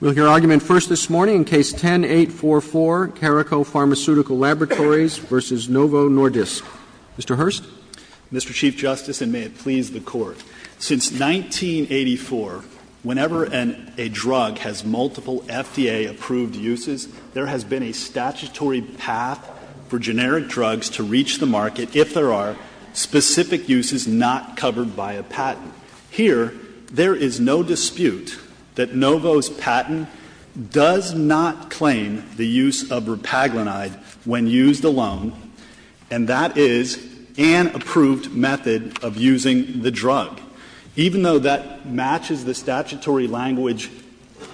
We'll hear argument first this morning in Case 10-844, Caraco Pharmaceutical Laboratories v. Novo Nordisk. Mr. Hurst. Mr. Chief Justice, and may it please the Court, since 1984, whenever a drug has multiple FDA-approved uses, there has been a statutory path for generic drugs to reach the market if there are specific uses not covered by a patent. Here, there is no dispute that Novo's patent does not claim the use of repaglinide when used alone, and that is an approved method of using the drug. Even though that matches the statutory language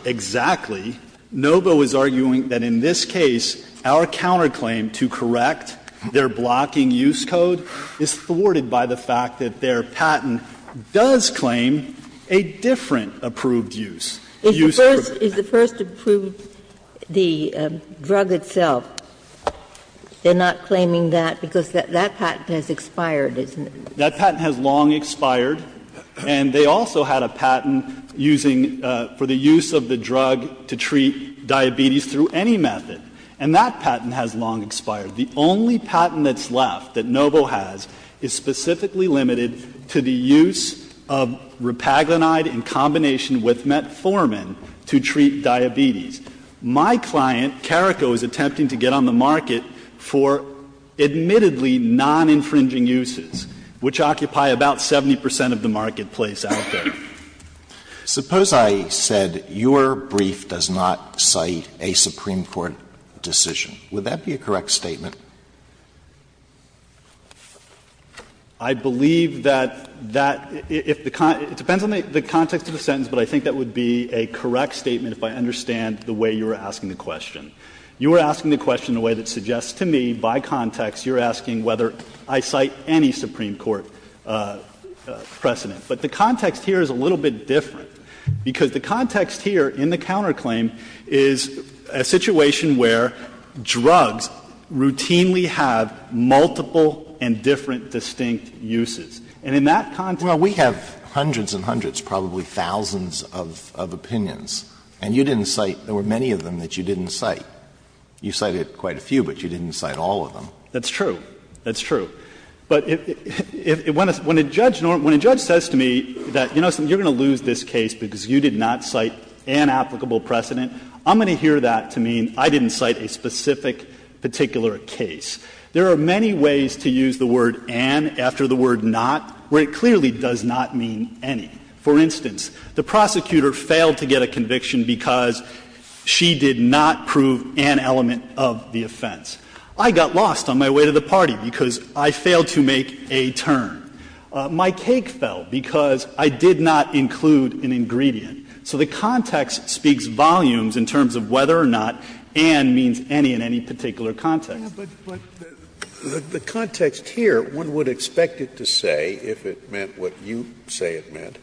exactly, Novo is arguing that in this case, our counterclaim to correct their blocking use code is thwarted by the fact that their patent does claim a different approved use, the use of repaglinide. Ginsburg is the first to prove the drug itself. They're not claiming that because that patent has expired, isn't it? That patent has long expired, and they also had a patent using for the use of the drug to treat diabetes through any method, and that patent has long expired. The only patent that's left that Novo has is specifically limited to the use of repaglinide in combination with metformin to treat diabetes. My client, Carrico, is attempting to get on the market for admittedly non-infringing uses, which occupy about 70 percent of the marketplace out there. Alitoso, suppose I said your brief does not cite a Supreme Court decision. Would that be a correct statement? I believe that that, if the con ‑‑ it depends on the context of the sentence, but I think that would be a correct statement if I understand the way you were asking the question. You were asking the question in a way that suggests to me by context you're asking whether I cite any Supreme Court precedent. But the context here is a little bit different, because the context here in the counterclaim is a situation where drugs routinely have multiple and different distinct uses. And in that context ‑‑ Well, we have hundreds and hundreds, probably thousands of opinions, and you didn't cite ‑‑ there were many of them that you didn't cite. You cited quite a few, but you didn't cite all of them. That's true. That's true. But when a judge says to me that, you know, you're going to lose this case because you did not cite an applicable precedent, I'm going to hear that to mean I didn't cite a specific particular case. There are many ways to use the word ‑‑ after the word not, where it clearly does not mean any. For instance, the prosecutor failed to get a conviction because she did not prove an element of the offense. I got lost on my way to the party because I failed to make a turn. My cake fell because I did not include an ingredient. So the context speaks volumes in terms of whether or not and means any in any particular context. Scalia, but the context here, one would expect it to say, if it meant what you say it meant,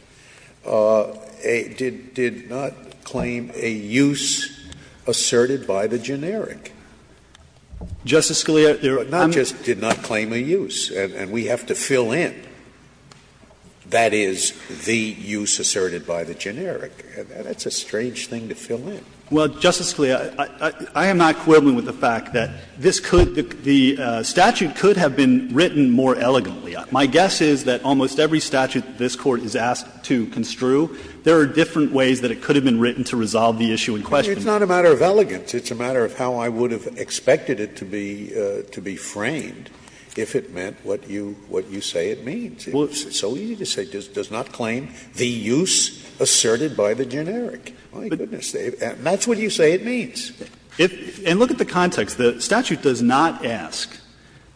did not claim a use asserted by the generic. Justice Scalia, I'm ‑‑ Scalia, but not just did not claim a use, and we have to fill in, that is, the use asserted by the generic. That's a strange thing to fill in. Well, Justice Scalia, I am not quibbling with the fact that this could ‑‑ the statute could have been written more elegantly. My guess is that almost every statute this Court is asked to construe, there are different ways that it could have been written to resolve the issue in question. It's not a matter of elegance. It's a matter of how I would have expected it to be framed if it meant what you say it means. It's so easy to say it does not claim the use asserted by the generic. My goodness. And that's what you say it means. And look at the context. The statute does not ask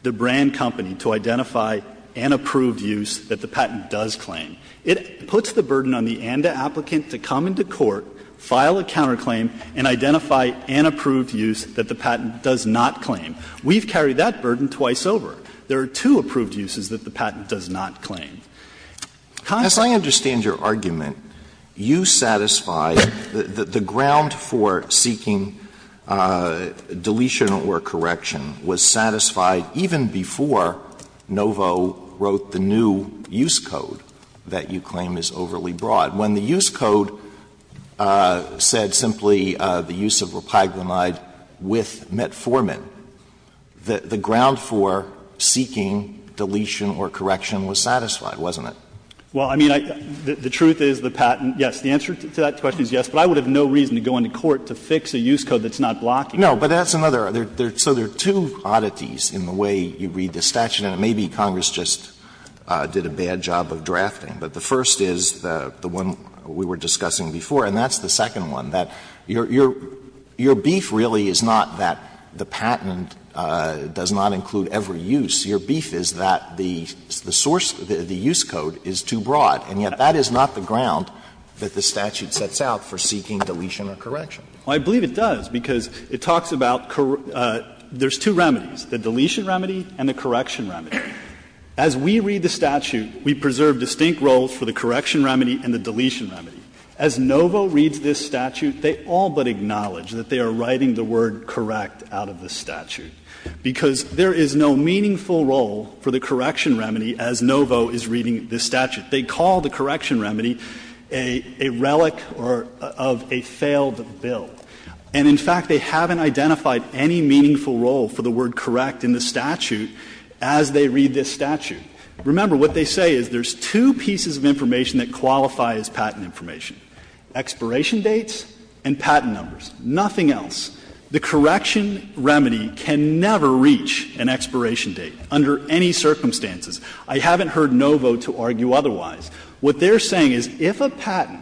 the brand company to identify an approved use that the patent does claim. It puts the burden on the ANDA applicant to come into court, file a counterclaim and identify an approved use that the patent does not claim. We've carried that burden twice over. There are two approved uses that the patent does not claim. Constantinopoulos, as I understand your argument, you satisfy that the ground for seeking deletion or correction was satisfied even before Novo wrote the new use code that you claim is overly broad. When the use code said simply the use of repaglomide with metformin, the ground for seeking deletion or correction was satisfied, wasn't it? Well, I mean, the truth is the patent, yes, the answer to that question is yes, but I would have no reason to go into court to fix a use code that's not blocking it. No, but that's another. So there are two oddities in the way you read the statute, and it may be Congress just did a bad job of drafting, but the first is the one we were discussing before, and that's the second one, that your beef really is not that the patent does not include every use. Your beef is that the source, the use code is too broad, and yet that is not the ground that the statute sets out for seeking deletion or correction. Well, I believe it does, because it talks about there's two remedies, the deletion remedy and the correction remedy. As we read the statute, we preserve distinct roles for the correction remedy and the deletion remedy. As Novo reads this statute, they all but acknowledge that they are writing the word correct out of the statute, because there is no meaningful role for the correction remedy as Novo is reading this statute. They call the correction remedy a relic or of a failed bill, and in fact, they haven't identified any meaningful role for the word correct in the statute as they read this statute. Remember, what they say is there's two pieces of information that qualify as patent information, expiration dates and patent numbers, nothing else. The correction remedy can never reach an expiration date under any circumstances. I haven't heard Novo to argue otherwise. What they're saying is if a patent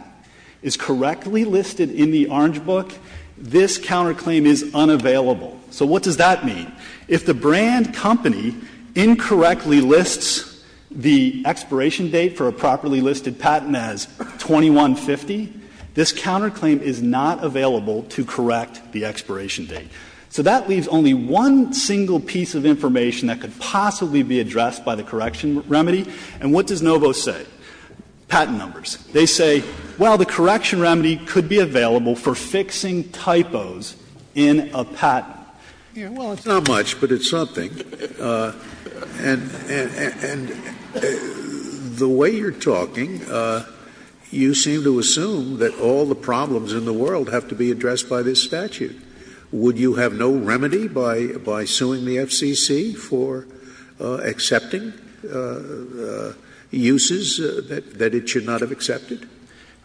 is correctly listed in the Orange Book, this counterclaim is unavailable. So what does that mean? If the brand company incorrectly lists the expiration date for a properly listed patent as 2150, this counterclaim is not available to correct the expiration date. So that leaves only one single piece of information that could possibly be addressed by the correction remedy. And what does Novo say? Patent numbers. They say, well, the correction remedy could be available for fixing typos in a patent. Scalia, well, it's not much, but it's something. And the way you're talking, you seem to assume that all the problems in the world have to be addressed by this statute. Would you have no remedy by suing the FCC for accepting uses that it should not have accepted?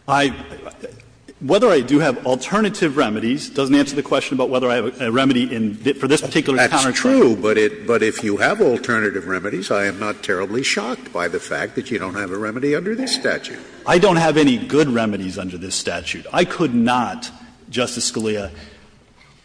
I — whether I do have alternative remedies doesn't answer the question about whether I have a remedy for this particular counterclaim. That's true, but if you have alternative remedies, I am not terribly shocked by the fact that you don't have a remedy under this statute. I don't have any good remedies under this statute. I could not, Justice Scalia,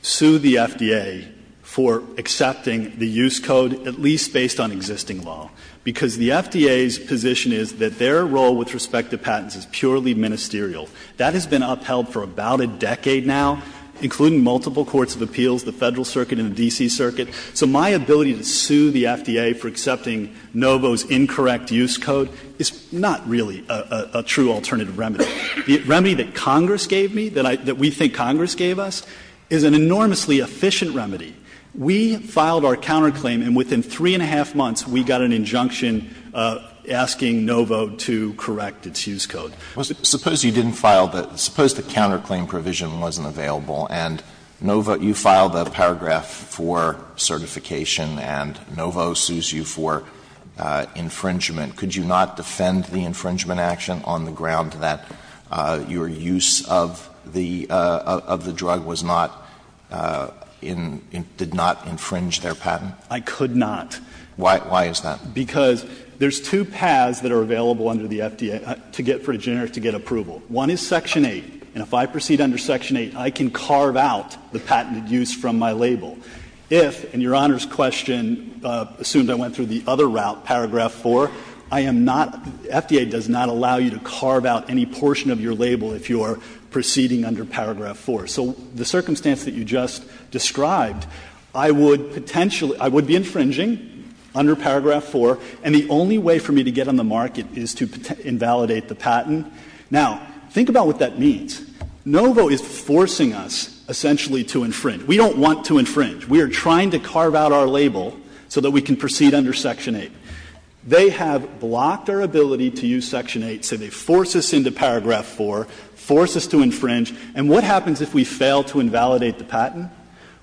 sue the FDA for accepting the use code, at least based on existing law, because the FDA's position is that their role with respect to patents is purely ministerial. That has been upheld for about a decade now, including multiple courts of appeals, the Federal Circuit and the D.C. Circuit. So my ability to sue the FDA for accepting Novo's incorrect use code is not really a true alternative remedy. The remedy that Congress gave me, that I — that we think Congress gave us, is an enormously efficient remedy. We filed our counterclaim, and within three and a half months, we got an injunction asking Novo to correct its use code. Alitoson Suppose you didn't file the — suppose the counterclaim provision wasn't available, and Novo — you filed a paragraph for certification, and Novo sues you for infringement. Could you not defend the infringement action on the ground that your use of the — of the patent did not infringe their patent? I could not. Why is that? Because there's two paths that are available under the FDA to get for a generic to get approval. One is Section 8. And if I proceed under Section 8, I can carve out the patented use from my label. If, in Your Honor's question, assumed I went through the other route, paragraph 4, I am not — FDA does not allow you to carve out any portion of your label if you are proceeding under paragraph 4. So the circumstance that you just described, I would potentially — I would be infringing under paragraph 4, and the only way for me to get on the market is to invalidate the patent. Now, think about what that means. Novo is forcing us essentially to infringe. We don't want to infringe. We are trying to carve out our label so that we can proceed under Section 8. They have blocked our ability to use Section 8. So they force us into paragraph 4, force us to infringe. And what happens if we fail to invalidate the patent?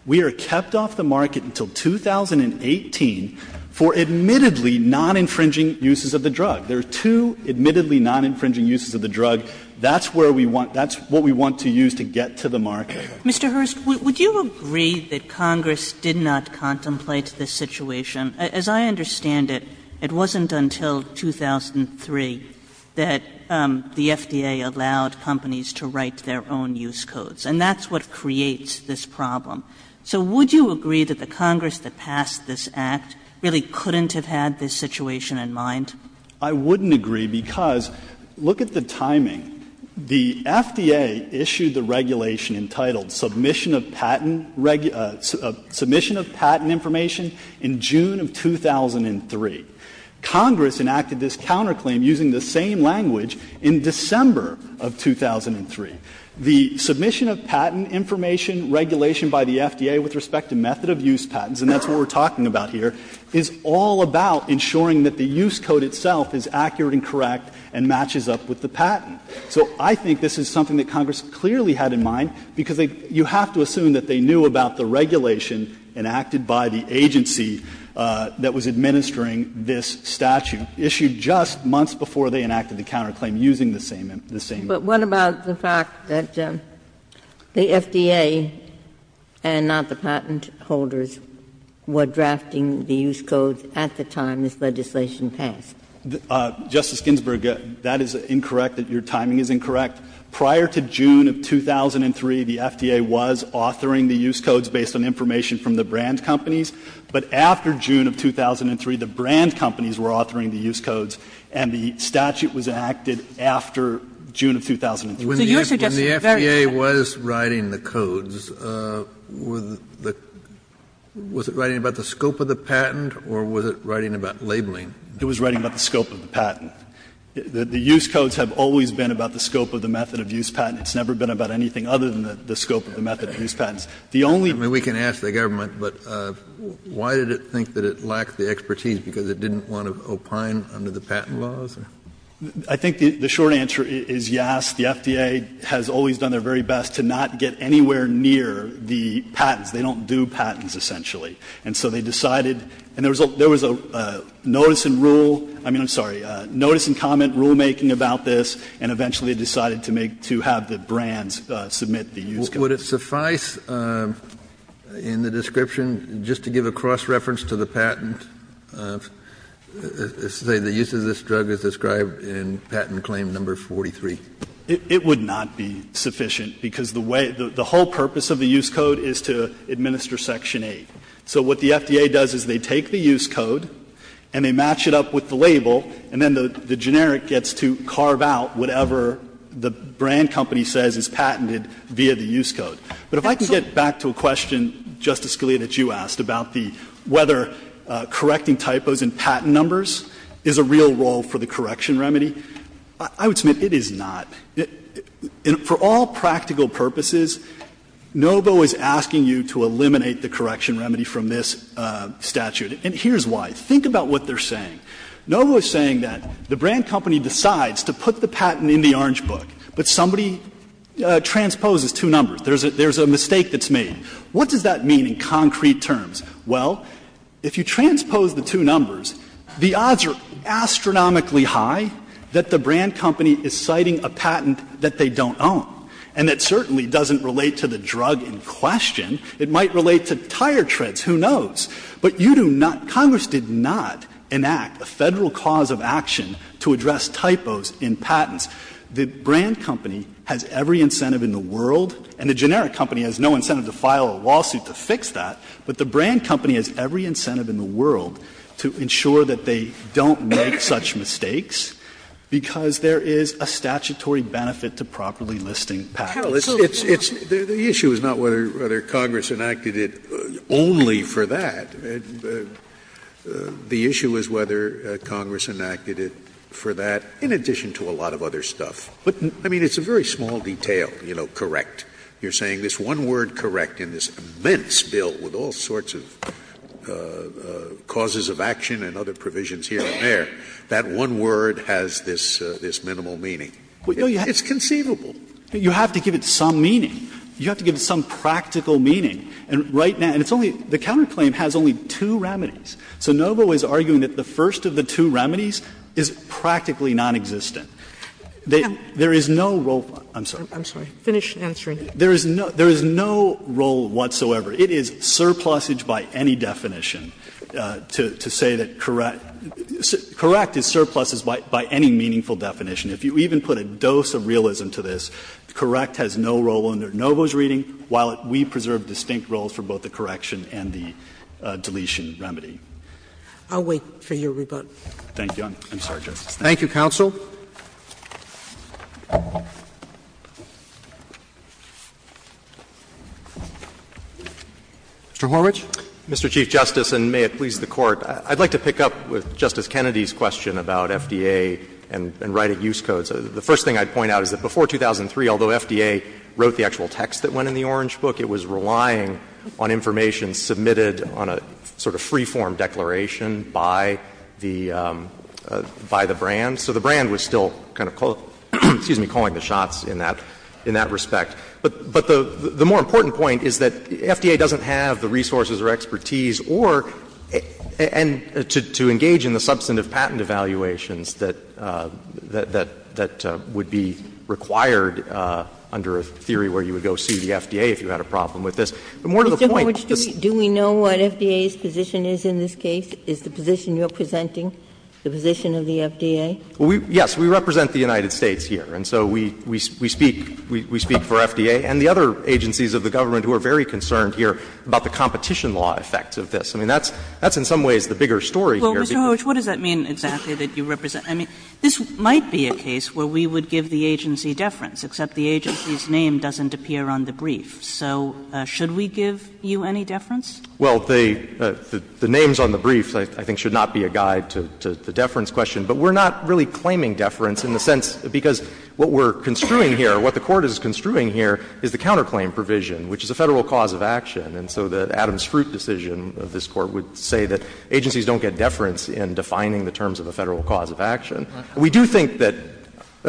We are kept off the market until 2018 for admittedly non-infringing uses of the drug. There are two admittedly non-infringing uses of the drug. That's where we want — that's what we want to use to get to the market. Kagan. Kagan. Mr. Hurst, would you agree that Congress did not contemplate this situation? As I understand it, it wasn't until 2003 that the FDA allowed companies to write their own use codes, and that's what creates this problem. So would you agree that the Congress that passed this Act really couldn't have had this situation in mind? I wouldn't agree because look at the timing. The FDA issued the regulation entitled Submission of Patent Information in June of 2003. Congress enacted this counterclaim using the same language in December of 2003. The Submission of Patent Information regulation by the FDA with respect to method of use patents, and that's what we're talking about here, is all about ensuring that the use code itself is accurate and correct and matches up with the patent. So I think this is something that Congress clearly had in mind, because you have to assume that they knew about the regulation enacted by the agency that was administering this statute, issued just months before they enacted the counterclaim using the same language. But what about the fact that the FDA and not the patent holders were drafting the use codes at the time this legislation passed? Justice Ginsburg, that is incorrect, that your timing is incorrect. Prior to June of 2003, the FDA was authoring the use codes based on information from the brand companies. But after June of 2003, the brand companies were authoring the use codes, and the patent holders were authoring the use codes in June of 2003. So you're suggesting that the FDA was writing the codes, was it writing about the scope of the patent, or was it writing about labeling? It was writing about the scope of the patent. The use codes have always been about the scope of the method of use patent. It's never been about anything other than the scope of the method of use patents. The only thing that the patent holders were writing about was the scope of the patent. Kennedy, we can ask the government, but why did it think that it lacked the expertise because it didn't want to opine under the patent laws? I think the short answer is yes, the FDA has always done their very best to not get anywhere near the patents. They don't do patents, essentially. And so they decided, and there was a notice and rule, I mean, I'm sorry, notice and comment rulemaking about this, and eventually decided to make, to have the brands submit the use codes. Would it suffice in the description, just to give a cross-reference to the patent, to say the use of this drug is described in patent claim number 43? It would not be sufficient, because the way the whole purpose of the use code is to administer section 8. So what the FDA does is they take the use code and they match it up with the label, and then the generic gets to carve out whatever the brand company says is patented via the use code. But if I can get back to a question, Justice Scalia, that you asked about the whether correcting typos in patent numbers is a real role for the correction remedy. I would submit it is not. For all practical purposes, NOVO is asking you to eliminate the correction remedy from this statute. And here's why. Think about what they're saying. NOVO is saying that the brand company decides to put the patent in the orange book, but somebody transposes two numbers. There's a mistake that's made. What does that mean in concrete terms? Well, if you transpose the two numbers, the odds are astronomically high that the brand company is citing a patent that they don't own, and that certainly doesn't relate to the drug in question. It might relate to tire treads. Who knows? But you do not – Congress did not enact a Federal cause of action to address typos in patents. The brand company has every incentive in the world, and the generic company has no incentive in the world, to ensure that they don't make such mistakes, because there is a statutory benefit to properly listing patents. Sotomayor, it's – the issue is not whether Congress enacted it only for that. The issue is whether Congress enacted it for that in addition to a lot of other stuff. But, I mean, it's a very small detail, you know, correct. You're saying this one word correct in this immense bill with all sorts of, you know, all sorts of causes of action and other provisions here and there, that one word has this minimal meaning. It's conceivable. You have to give it some meaning. You have to give it some practical meaning. And right now – and it's only – the counterclaim has only two remedies. So Novo is arguing that the first of the two remedies is practically nonexistent. There is no role – I'm sorry. I'm sorry. Finish answering. There is no role whatsoever. It is surplusage by any definition to say that correct – correct is surpluses by any meaningful definition. If you even put a dose of realism to this, correct has no role under Novo's reading, while we preserve distinct roles for both the correction and the deletion remedy. I'll wait for your rebuttal. Thank you. I'm sorry, Justice. Thank you, counsel. Mr. Horwich. Mr. Chief Justice, and may it please the Court, I'd like to pick up with Justice Kennedy's question about FDA and writing use codes. The first thing I'd point out is that before 2003, although FDA wrote the actual text that went in the Orange Book, it was relying on information submitted on a sort of free-form declaration by the – by the brand. So the brand was still kind of calling the shots in that – in that respect. But the more important point is that FDA doesn't have the resources or expertise or – and to engage in the substantive patent evaluations that – that would be required under a theory where you would go see the FDA if you had a problem with this. But more to the point, this — Mr. Horwich, do we know what FDA's position is in this case? Is the position you're presenting the position of the FDA? Well, we – yes, we represent the United States here, and so we – we speak – we speak for FDA and the other agencies of the government who are very concerned here about the competition law effects of this. I mean, that's – that's in some ways the bigger story here. Well, Mr. Horwich, what does that mean exactly, that you represent – I mean, this might be a case where we would give the agency deference, except the agency's name doesn't appear on the brief. So should we give you any deference? Well, the – the names on the brief, I think, should not be a guide to the deference question, but we're not really claiming deference in the sense because what we're construing here, what the Court is construing here is the counterclaim provision, which is a Federal cause of action, and so the Adams-Fruit decision of this Court would say that agencies don't get deference in defining the terms of a Federal cause of action. We do think that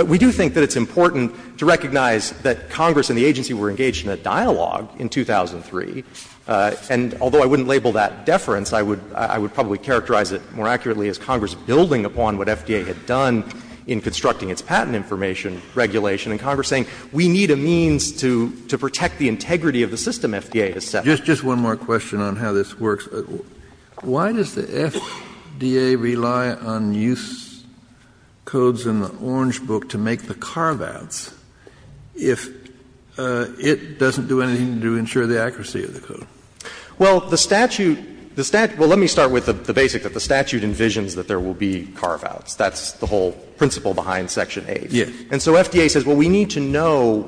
– we do think that it's important to recognize that Congress and the agency were engaged in a dialogue in 2003, and although I wouldn't label that deference, I would – I would probably characterize it more accurately as Congress building upon what FDA had done in constructing its patent information regulation, and Congress saying we need a means to – to protect the integrity of the system FDA has set. Just one more question on how this works. Why does the FDA rely on use codes in the Orange Book to make the carve-outs Well, the statute – the statute – well, let me start with the basic that the statute envisions that there will be carve-outs. That's the whole principle behind Section 8. Yes. And so FDA says, well, we need to know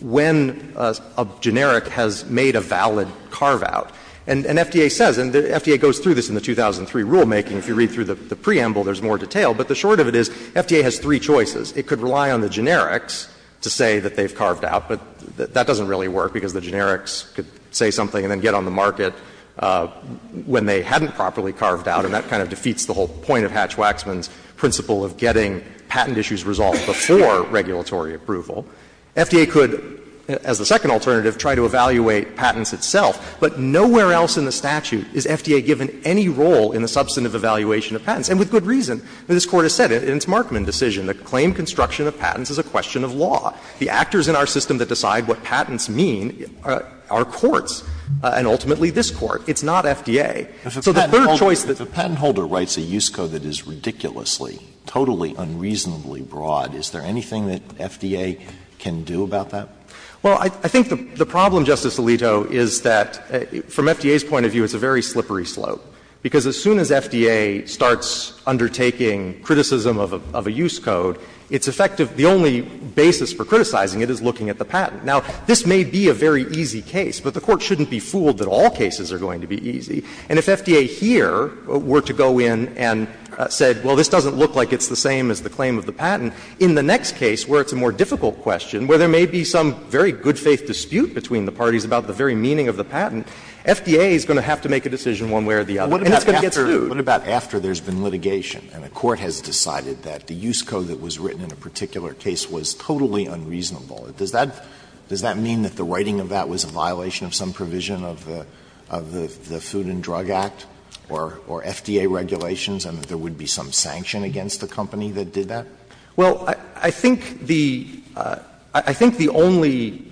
when a generic has made a valid carve-out. And FDA says, and FDA goes through this in the 2003 rulemaking. If you read through the preamble, there's more detail. But the short of it is FDA has three choices. It could rely on the generics to say that they've carved out, but that doesn't really work, because the generics could say something and then get on the market when they hadn't properly carved out. And that kind of defeats the whole point of Hatch-Waxman's principle of getting patent issues resolved before regulatory approval. FDA could, as the second alternative, try to evaluate patents itself. But nowhere else in the statute is FDA given any role in the substantive evaluation of patents, and with good reason. This Court has said in its Markman decision that claim construction of patents is a question of law. The actors in our system that decide what patents mean are courts, and ultimately this Court. It's not FDA. So the third choice that's Alito If a patent holder writes a use code that is ridiculously, totally unreasonably broad, is there anything that FDA can do about that? Well, I think the problem, Justice Alito, is that from FDA's point of view, it's a very slippery slope, because as soon as FDA starts undertaking criticism of a use code, it's effective the only basis for criticizing it is looking at the patent. Now, this may be a very easy case, but the Court shouldn't be fooled that all cases are going to be easy. And if FDA here were to go in and said, well, this doesn't look like it's the same as the claim of the patent, in the next case where it's a more difficult question, where there may be some very good-faith dispute between the parties about the very meaning of the patent, FDA is going to have to make a decision one way or the other. And it's going to get sued. Alito What about after there's been litigation and a court has decided that the use code that was written in a particular case was totally unreasonable? Does that mean that the writing of that was a violation of some provision of the Food and Drug Act or FDA regulations, and that there would be some sanction against the company that did that? Well, I think the only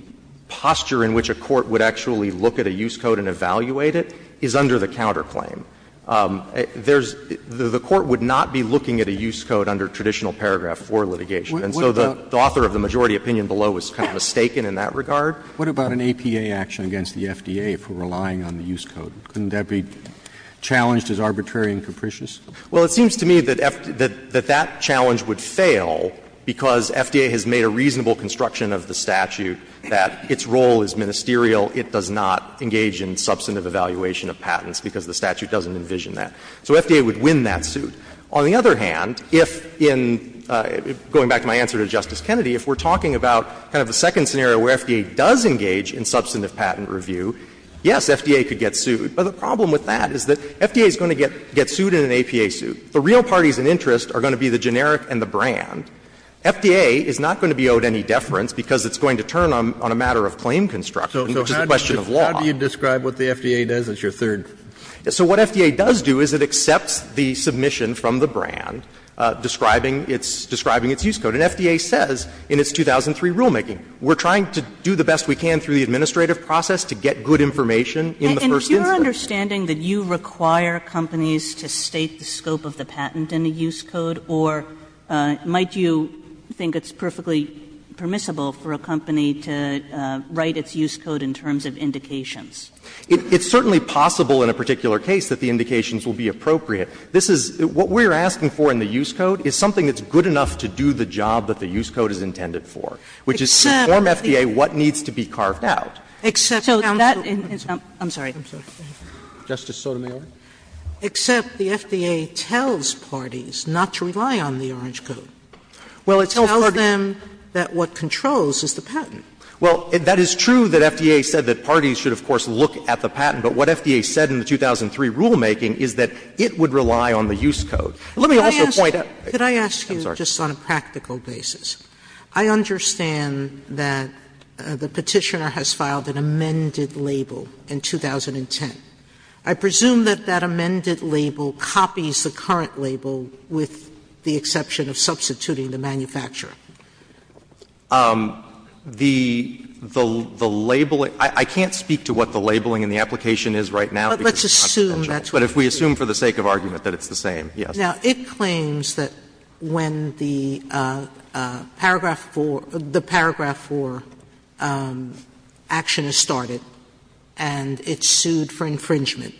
posture in which a court would actually look at a use code and evaluate it is under the counterclaim. There's the Court would not be looking at a use code under traditional paragraph 4 litigation. And so the author of the majority opinion below was kind of mistaken in that regard. What about an APA action against the FDA for relying on the use code? Couldn't that be challenged as arbitrary and capricious? Well, it seems to me that that challenge would fail because FDA has made a reasonable construction of the statute that its role is ministerial. It does not engage in substantive evaluation of patents because the statute doesn't envision that. So FDA would win that suit. On the other hand, if in going back to my answer to Justice Kennedy, if we're talking about kind of the second scenario where FDA does engage in substantive patent review, yes, FDA could get sued. But the problem with that is that FDA is going to get sued in an APA suit. The real parties in interest are going to be the generic and the brand. FDA is not going to be owed any deference because it's going to turn on a matter of claim construction. It's a question of law. So how do you describe what the FDA does as your third? So what FDA does do is it accepts the submission from the brand describing its use code. And FDA says in its 2003 rulemaking, we're trying to do the best we can through the administrative process to get good information in the first instance. And is your understanding that you require companies to state the scope of the patent in the use code, or might you think it's perfectly permissible for a company to write its use code in terms of indications? It's certainly possible in a particular case that the indications will be appropriate. This is what we're asking for in the use code is something that's good enough to do the job that the use code is intended for, which is to inform FDA what needs to be carved out. Except that in its own. I'm sorry. Justice Sotomayor. Except the FDA tells parties not to rely on the orange code. Well, it tells them that what controls is the patent. Well, that is true that FDA said that parties should, of course, look at the patent. But what FDA said in the 2003 rulemaking is that it would rely on the use code. Let me also point out. Sotomayor, I'm sorry. Sotomayor, could I ask you just on a practical basis? I understand that the Petitioner has filed an amended label in 2010. I presume that that amended label copies the current label with the exception of substituting the manufacturer. The label – I can't speak to what the labeling in the application is right now. But let's assume that's what it is. But if we assume for the sake of argument that it's the same, yes. Now, it claims that when the paragraph for – the paragraph for action is started and it's sued for infringement,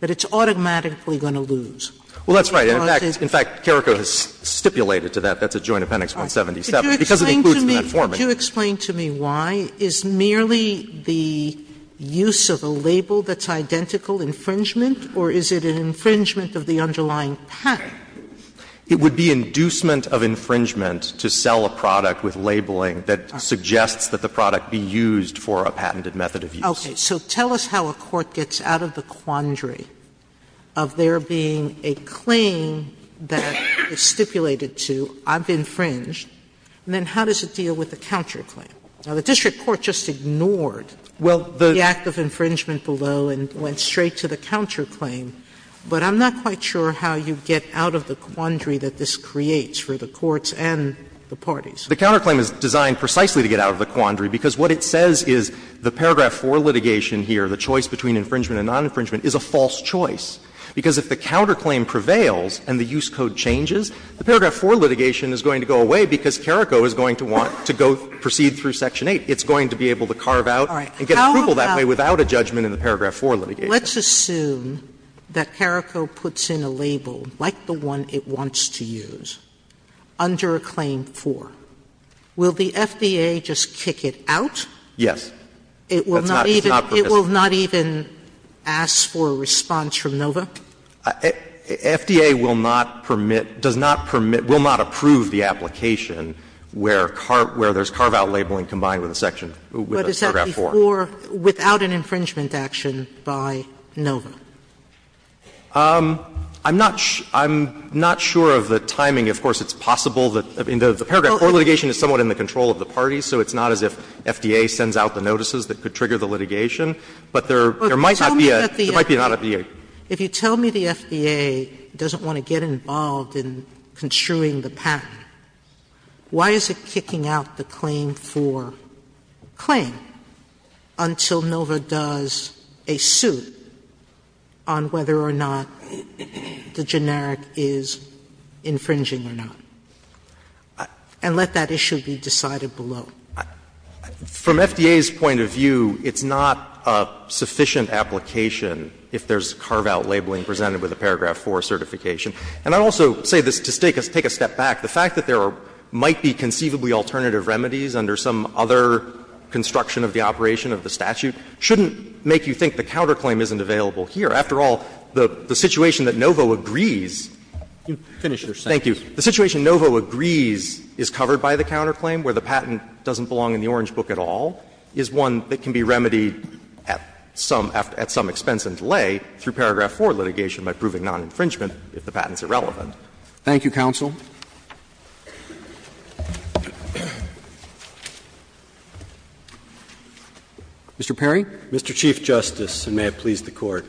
that it's automatically going to lose. Well, that's right. In fact, Carrico has stipulated to that. That's at Joint Appendix 177, because it includes that format. Sotomayor, could you explain to me why? Is merely the use of a label that's identical infringement, or is it an infringement of the underlying patent? It would be inducement of infringement to sell a product with labeling that suggests that the product be used for a patented method of use. Okay. So tell us how a court gets out of the quandary of there being a claim that is stipulated to I've infringed, and then how does it deal with the counterclaim? Now, the district court just ignored the act of infringement below and went straight to the counterclaim. But I'm not quite sure how you get out of the quandary that this creates for the courts and the parties. The counterclaim is designed precisely to get out of the quandary, because what it says is the paragraph for litigation here, the choice between infringement and non-infringement, is a false choice, because if the counterclaim prevails and the use code changes, the paragraph for litigation is going to go away, because CARICO is going to want to go proceed through section 8. It's going to be able to carve out and get approval that way without a judgment in the paragraph for litigation. Sotomayor, let's assume that CARICO puts in a label like the one it wants to use under a claim for. Will the FDA just kick it out? Yes. It will not even ask for a response from NOVA? FDA will not permit, does not permit, will not approve the application where there's carve-out labeling combined with a section, with a paragraph 4. But is that before, without an infringement action by NOVA? I'm not sure of the timing. Of course, it's possible that the paragraph for litigation is somewhat in the control of the parties, so it's not as if FDA sends out the notices that could trigger the litigation. But there might not be a, there might not be a. If you tell me the FDA doesn't want to get involved in construing the patent, why is it kicking out the claim for claim until NOVA does a suit on whether or not the generic is infringing or not, and let that issue be decided below? From FDA's point of view, it's not a sufficient application if there's carve-out labeling presented with a paragraph 4 certification. And I also say this to take a step back. The fact that there might be conceivably alternative remedies under some other construction of the operation of the statute shouldn't make you think the counterclaim isn't available here. After all, the situation that NOVA agrees. Roberts. You've finished your sentence. Thank you. The situation NOVA agrees is covered by the counterclaim, where the patent doesn't belong in the Orange Book at all, is one that can be remedied at some expense and delay through paragraph 4 litigation by proving non-infringement if the patent's irrelevant. Thank you, counsel. Mr. Perry. Mr. Chief Justice, and may it please the Court.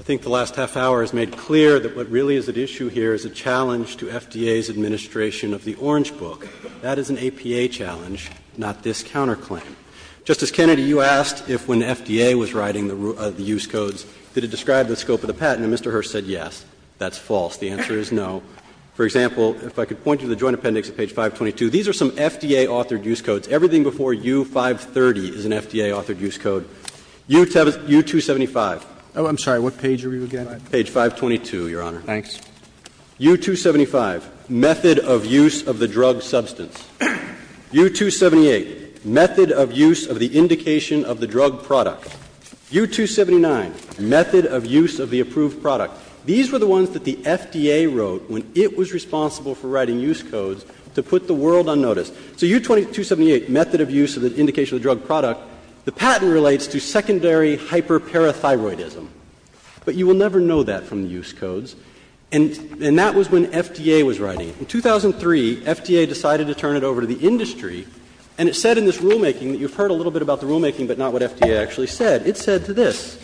I think the last half hour has made clear that what really is at issue here is a challenge to FDA's administration of the Orange Book. That is an APA challenge, not this counterclaim. Justice Kennedy, you asked if when FDA was writing the use codes, did it describe the scope of the patent, and Mr. Hearst said yes. That's false. The answer is no. For example, if I could point you to the Joint Appendix at page 522. These are some FDA-authored use codes. Everything before U-530 is an FDA-authored use code. U-275. Oh, I'm sorry. What page are we again? Page 522, Your Honor. Thanks. U-275, method of use of the drug substance. U-278, method of use of the indication of the drug product. U-279, method of use of the approved product. These were the ones that the FDA wrote when it was responsible for writing use codes to put the world on notice. So U-278, method of use of the indication of the drug product, the patent relates to secondary hyperparathyroidism. But you will never know that from the use codes. And that was when FDA was writing. In 2003, FDA decided to turn it over to the industry, and it said in this rulemaking that you've heard a little bit about the rulemaking, but not what FDA actually said. It said to this,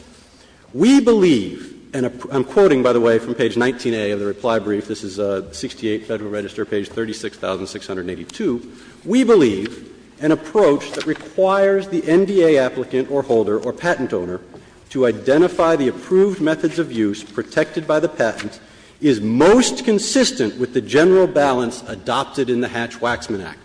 we believe, and I'm quoting, by the way, from page 19A of the reply brief, this is 68 Federal Register, page 36,682, we believe an approach that requires the NDA applicant or holder or patent owner to identify the approved methods of use protected by the patent is most consistent with the general balance adopted in the Hatch-Waxman Act.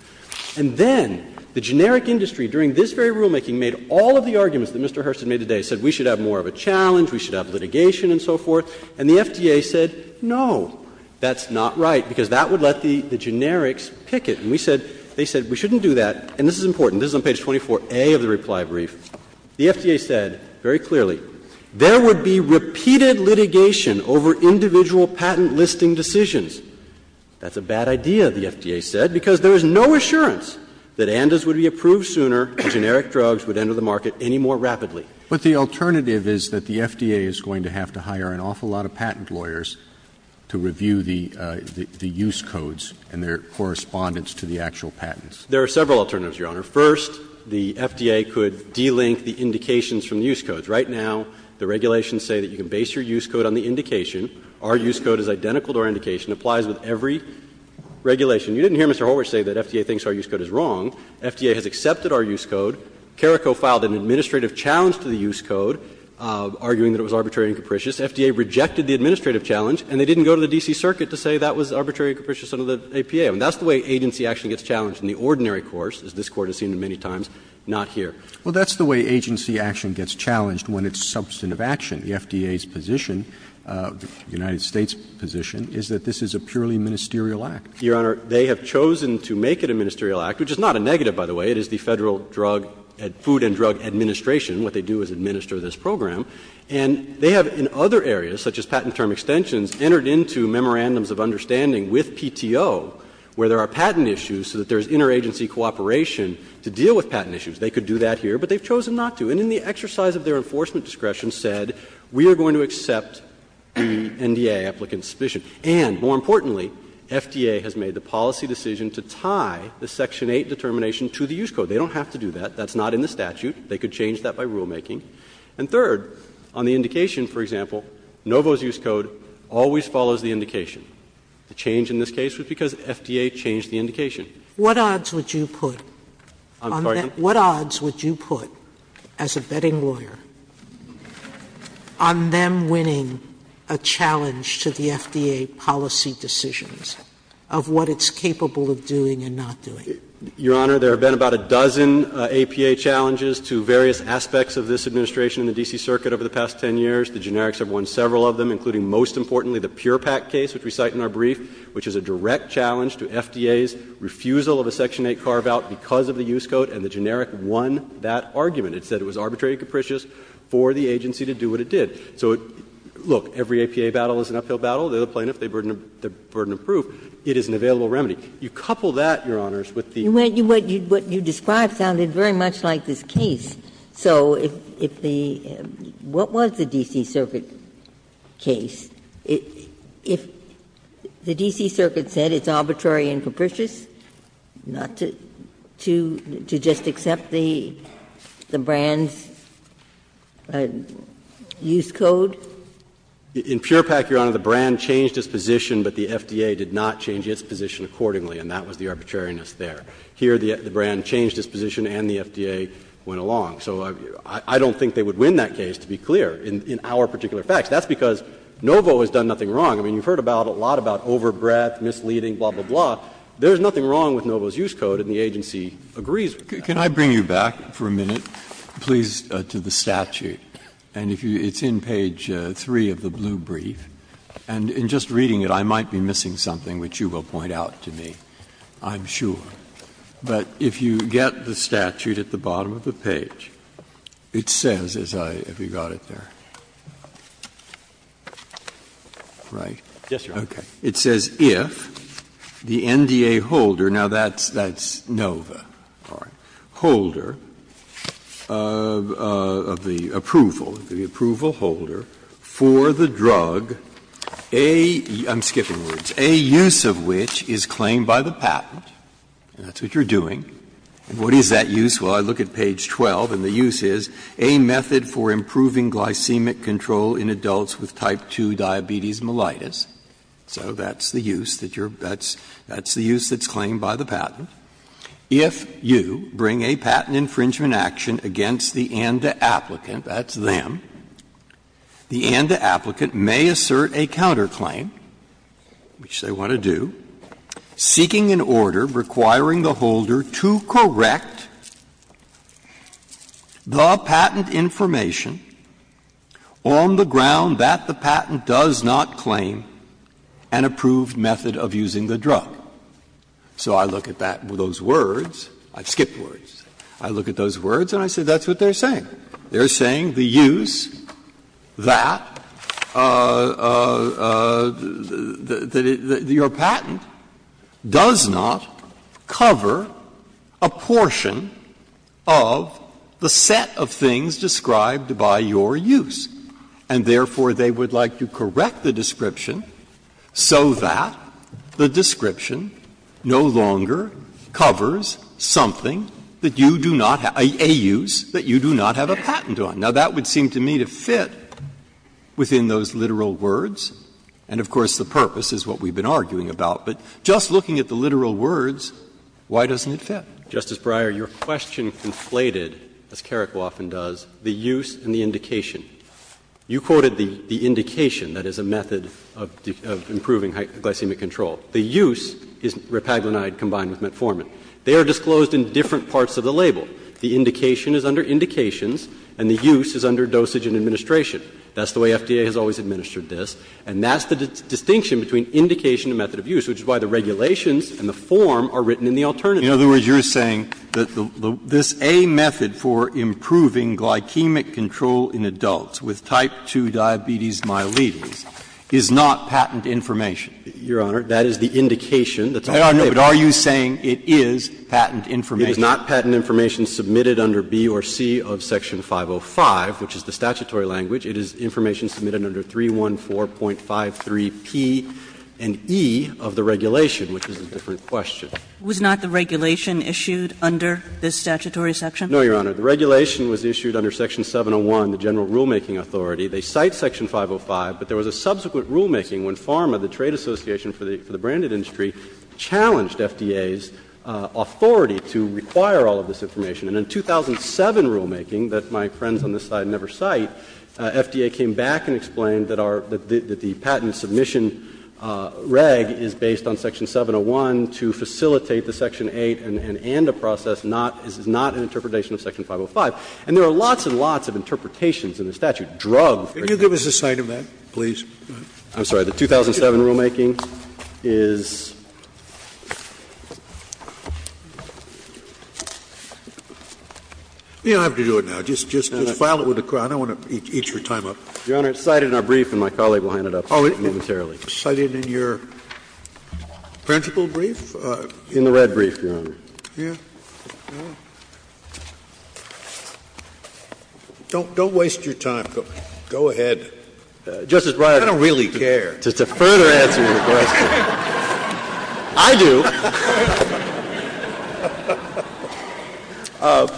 And then the generic industry, during this very rulemaking, made all of the arguments that Mr. Hurst had made today, said we should have more of a challenge, we should have litigation and so forth, and the FDA said, no, that's not right, because that would let the generics pick it. And we said, they said we shouldn't do that, and this is important, this is on page 24A of the reply brief. The FDA said very clearly, there would be repeated litigation over individual patent listing decisions. That's a bad idea, the FDA said, because there is no assurance that NDAs would be approved sooner and generic drugs would enter the market any more rapidly. But the alternative is that the FDA is going to have to hire an awful lot of patent lawyers to review the use codes and their correspondence to the actual patents. There are several alternatives, Your Honor. First, the FDA could de-link the indications from the use codes. Right now, the regulations say that you can base your use code on the indication. Our use code is identical to our indication, applies with every regulation. You didn't hear Mr. Horwich say that FDA thinks our use code is wrong. FDA has accepted our use code. CARA co-filed an administrative challenge to the use code, arguing that it was arbitrary and capricious. FDA rejected the administrative challenge, and they didn't go to the D.C. Circuit to say that was arbitrary and capricious under the APA. And that's the way agency actually gets challenged in the ordinary course, as this Court has seen many times, not here. Well, that's the way agency action gets challenged when it's substantive action. The FDA's position, the United States' position, is that this is a purely ministerial act. Your Honor, they have chosen to make it a ministerial act, which is not a negative, by the way. It is the Federal Drug — Food and Drug Administration. What they do is administer this program. And they have, in other areas, such as patent term extensions, entered into memorandums of understanding with PTO, where there are patent issues so that there is interagency cooperation to deal with patent issues. They could do that here, but they have chosen not to. And in the exercise of their enforcement discretion said, we are going to accept the NDA applicant's position. And, more importantly, FDA has made the policy decision to tie the Section 8 determination to the use code. They don't have to do that. That's not in the statute. They could change that by rulemaking. And third, on the indication, for example, Novo's use code always follows the indication. The change in this case was because FDA changed the indication. Sotomayor, what odds would you put on them? What odds would you put, as a betting lawyer, on them winning a challenge to the FDA policy decisions of what it's capable of doing and not doing? Your Honor, there have been about a dozen APA challenges to various aspects of this administration in the D.C. Circuit over the past 10 years. The generics have won several of them, including, most importantly, the PurePak case, which we cite in our brief, which is a direct challenge to FDA's refusal of a Section 8 carve-out because of the use code, and the generic won that argument. It said it was arbitrary and capricious for the agency to do what it did. So, look, every APA battle is an uphill battle. The other plaintiff, they burden of proof. It is an available remedy. You couple that, Your Honors, with the other. Ginsburg, what you described sounded very much like this case. So if the – what was the D.C. Circuit case? If the D.C. Circuit said it's arbitrary and capricious, not to just accept the brand's use code? In PurePak, Your Honor, the brand changed its position, but the FDA did not change its position accordingly, and that was the arbitrariness there. Here, the brand changed its position and the FDA went along. So I don't think they would win that case, to be clear, in our particular facts. That's because Novo has done nothing wrong. I mean, you've heard a lot about overbreath, misleading, blah, blah, blah. There's nothing wrong with Novo's use code, and the agency agrees with that. Breyer. Can I bring you back for a minute, please, to the statute? And if you – it's in page 3 of the blue brief, and in just reading it, I might be missing something which you will point out to me, I'm sure. But if you get the statute at the bottom of the page, it says, as I – have you got it there? Right? Yes, Your Honor. Okay. It says, If the NDA holder – now, that's Novo, all right – holder of the approval, the approval holder for the drug, a – I'm skipping words – a use of which is claimed by the patent, and that's what you're doing, and what is that use? Well, I look at page 12, and the use is a method for improving glycemic control in adults with type 2 diabetes mellitus. So that's the use that you're – that's the use that's claimed by the patent. If you bring a patent infringement action against the NDA applicant, that's them, the NDA applicant may assert a counterclaim, which they want to do, seeking the order, requiring the holder to correct the patent information on the ground that the patent does not claim an approved method of using the drug. So I look at that – those words – I've skipped words – I look at those words and I say that's what they're saying. They're saying the use that your patent does not cover a portion of the set of things described by your use, and therefore, they would like to correct the description so that the description no longer covers something that you do not have – a use that you do not have a patent on. Now, that would seem to me to fit within those literal words, and of course, the purpose is what we've been arguing about. But just looking at the literal words, why doesn't it fit? Justice Breyer, your question conflated, as Carrico often does, the use and the indication. You quoted the indication that is a method of improving glycemic control. The use is repaglinide combined with metformin. They are disclosed in different parts of the label. The indication is under indications and the use is under dosage and administration. That's the way FDA has always administered this, and that's the distinction between indication and method of use, which is why the regulations and the form are written in the alternative. Breyer, in other words, you're saying that this A method for improving glycemic control in adults with type 2 diabetes myelitis is not patent information? Your Honor, that is the indication. I don't know, but are you saying it is patent information? It is not patent information submitted under B or C of section 505, which is the statutory language. It is information submitted under 314.53p and E of the regulation, which is a different question. Was not the regulation issued under this statutory section? No, Your Honor. The regulation was issued under section 701, the general rulemaking authority. They cite section 505, but there was a subsequent rulemaking when PhRMA, the trade association for the branded industry, challenged FDA's authority to require all of this information. And in 2007 rulemaking, that my friends on this side never cite, FDA came back and explained that our the patent submission reg is based on section 701 to facilitate the section 8 and end a process not, is not an interpretation of section 505. And there are lots and lots of interpretations in the statute, drug-free. Can you give us a cite of that, please? I'm sorry. The 2007 rulemaking is? You don't have to do it now. Just file it with the Court. I don't want to eat your time up. Your Honor, it's cited in our brief and my colleague will hand it up momentarily. Cited in your principal brief? In the red brief, Your Honor. Don't waste your time. Go ahead. I don't really care. Justice Breyer, just to further answer your question, I do.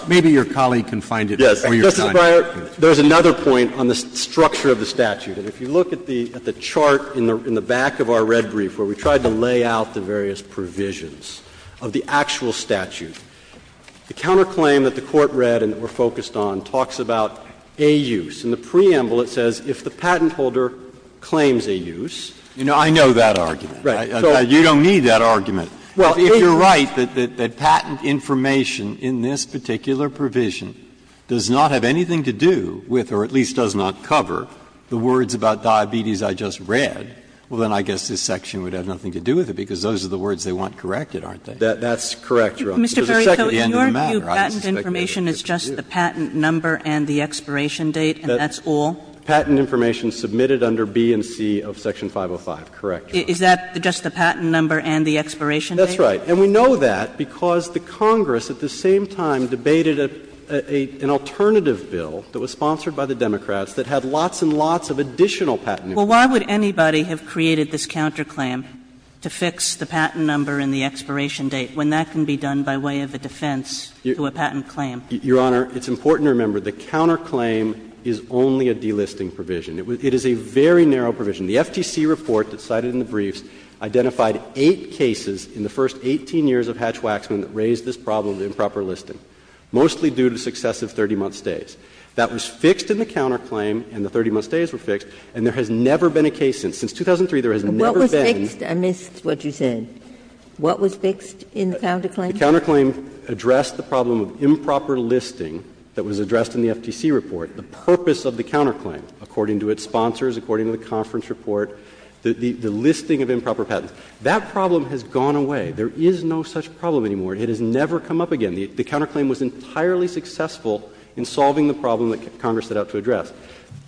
Maybe your colleague can find it for you. Justice Breyer, there is another point on the structure of the statute. And if you look at the chart in the back of our red brief where we tried to lay out the various provisions of the actual statute, the counterclaim that the Court read and that we're focused on talks about a use. In the preamble, it says, if the patent holder claims a use. You know, I know that argument. Right. You don't need that argument. Well, if you're right that patent information in this particular provision does not have anything to do with, or at least does not cover, the words about diabetes I just read, well, then I guess this section would have nothing to do with it, because those are the words they want corrected, aren't they? That's correct, Your Honor. Mr. Perry, your view patent information is just the patent number and the expiration date, and that's all? Patent information submitted under B and C of Section 505, correct, Your Honor. Is that just the patent number and the expiration date? That's right. And we know that because the Congress at the same time debated an alternative bill that was sponsored by the Democrats that had lots and lots of additional patent information. Well, why would anybody have created this counterclaim to fix the patent number and the expiration date when that can be done by way of a defense to a patent claim? Your Honor, it's important to remember the counterclaim is only a delisting provision. It is a very narrow provision. The FTC report that's cited in the briefs identified eight cases in the first 18 years of Hatch-Waxman that raised this problem of improper listing, mostly due to successive 30-month stays. That was fixed in the counterclaim and the 30-month stays were fixed, and there has never been a case since. Since 2003, there has never been. What was fixed? I missed what you said. What was fixed in the counterclaim? The counterclaim addressed the problem of improper listing that was addressed in the FTC report, the purpose of the counterclaim, according to its sponsors, according to the conference report, the listing of improper patents. That problem has gone away. There is no such problem anymore. It has never come up again. The counterclaim was entirely successful in solving the problem that Congress set out to address.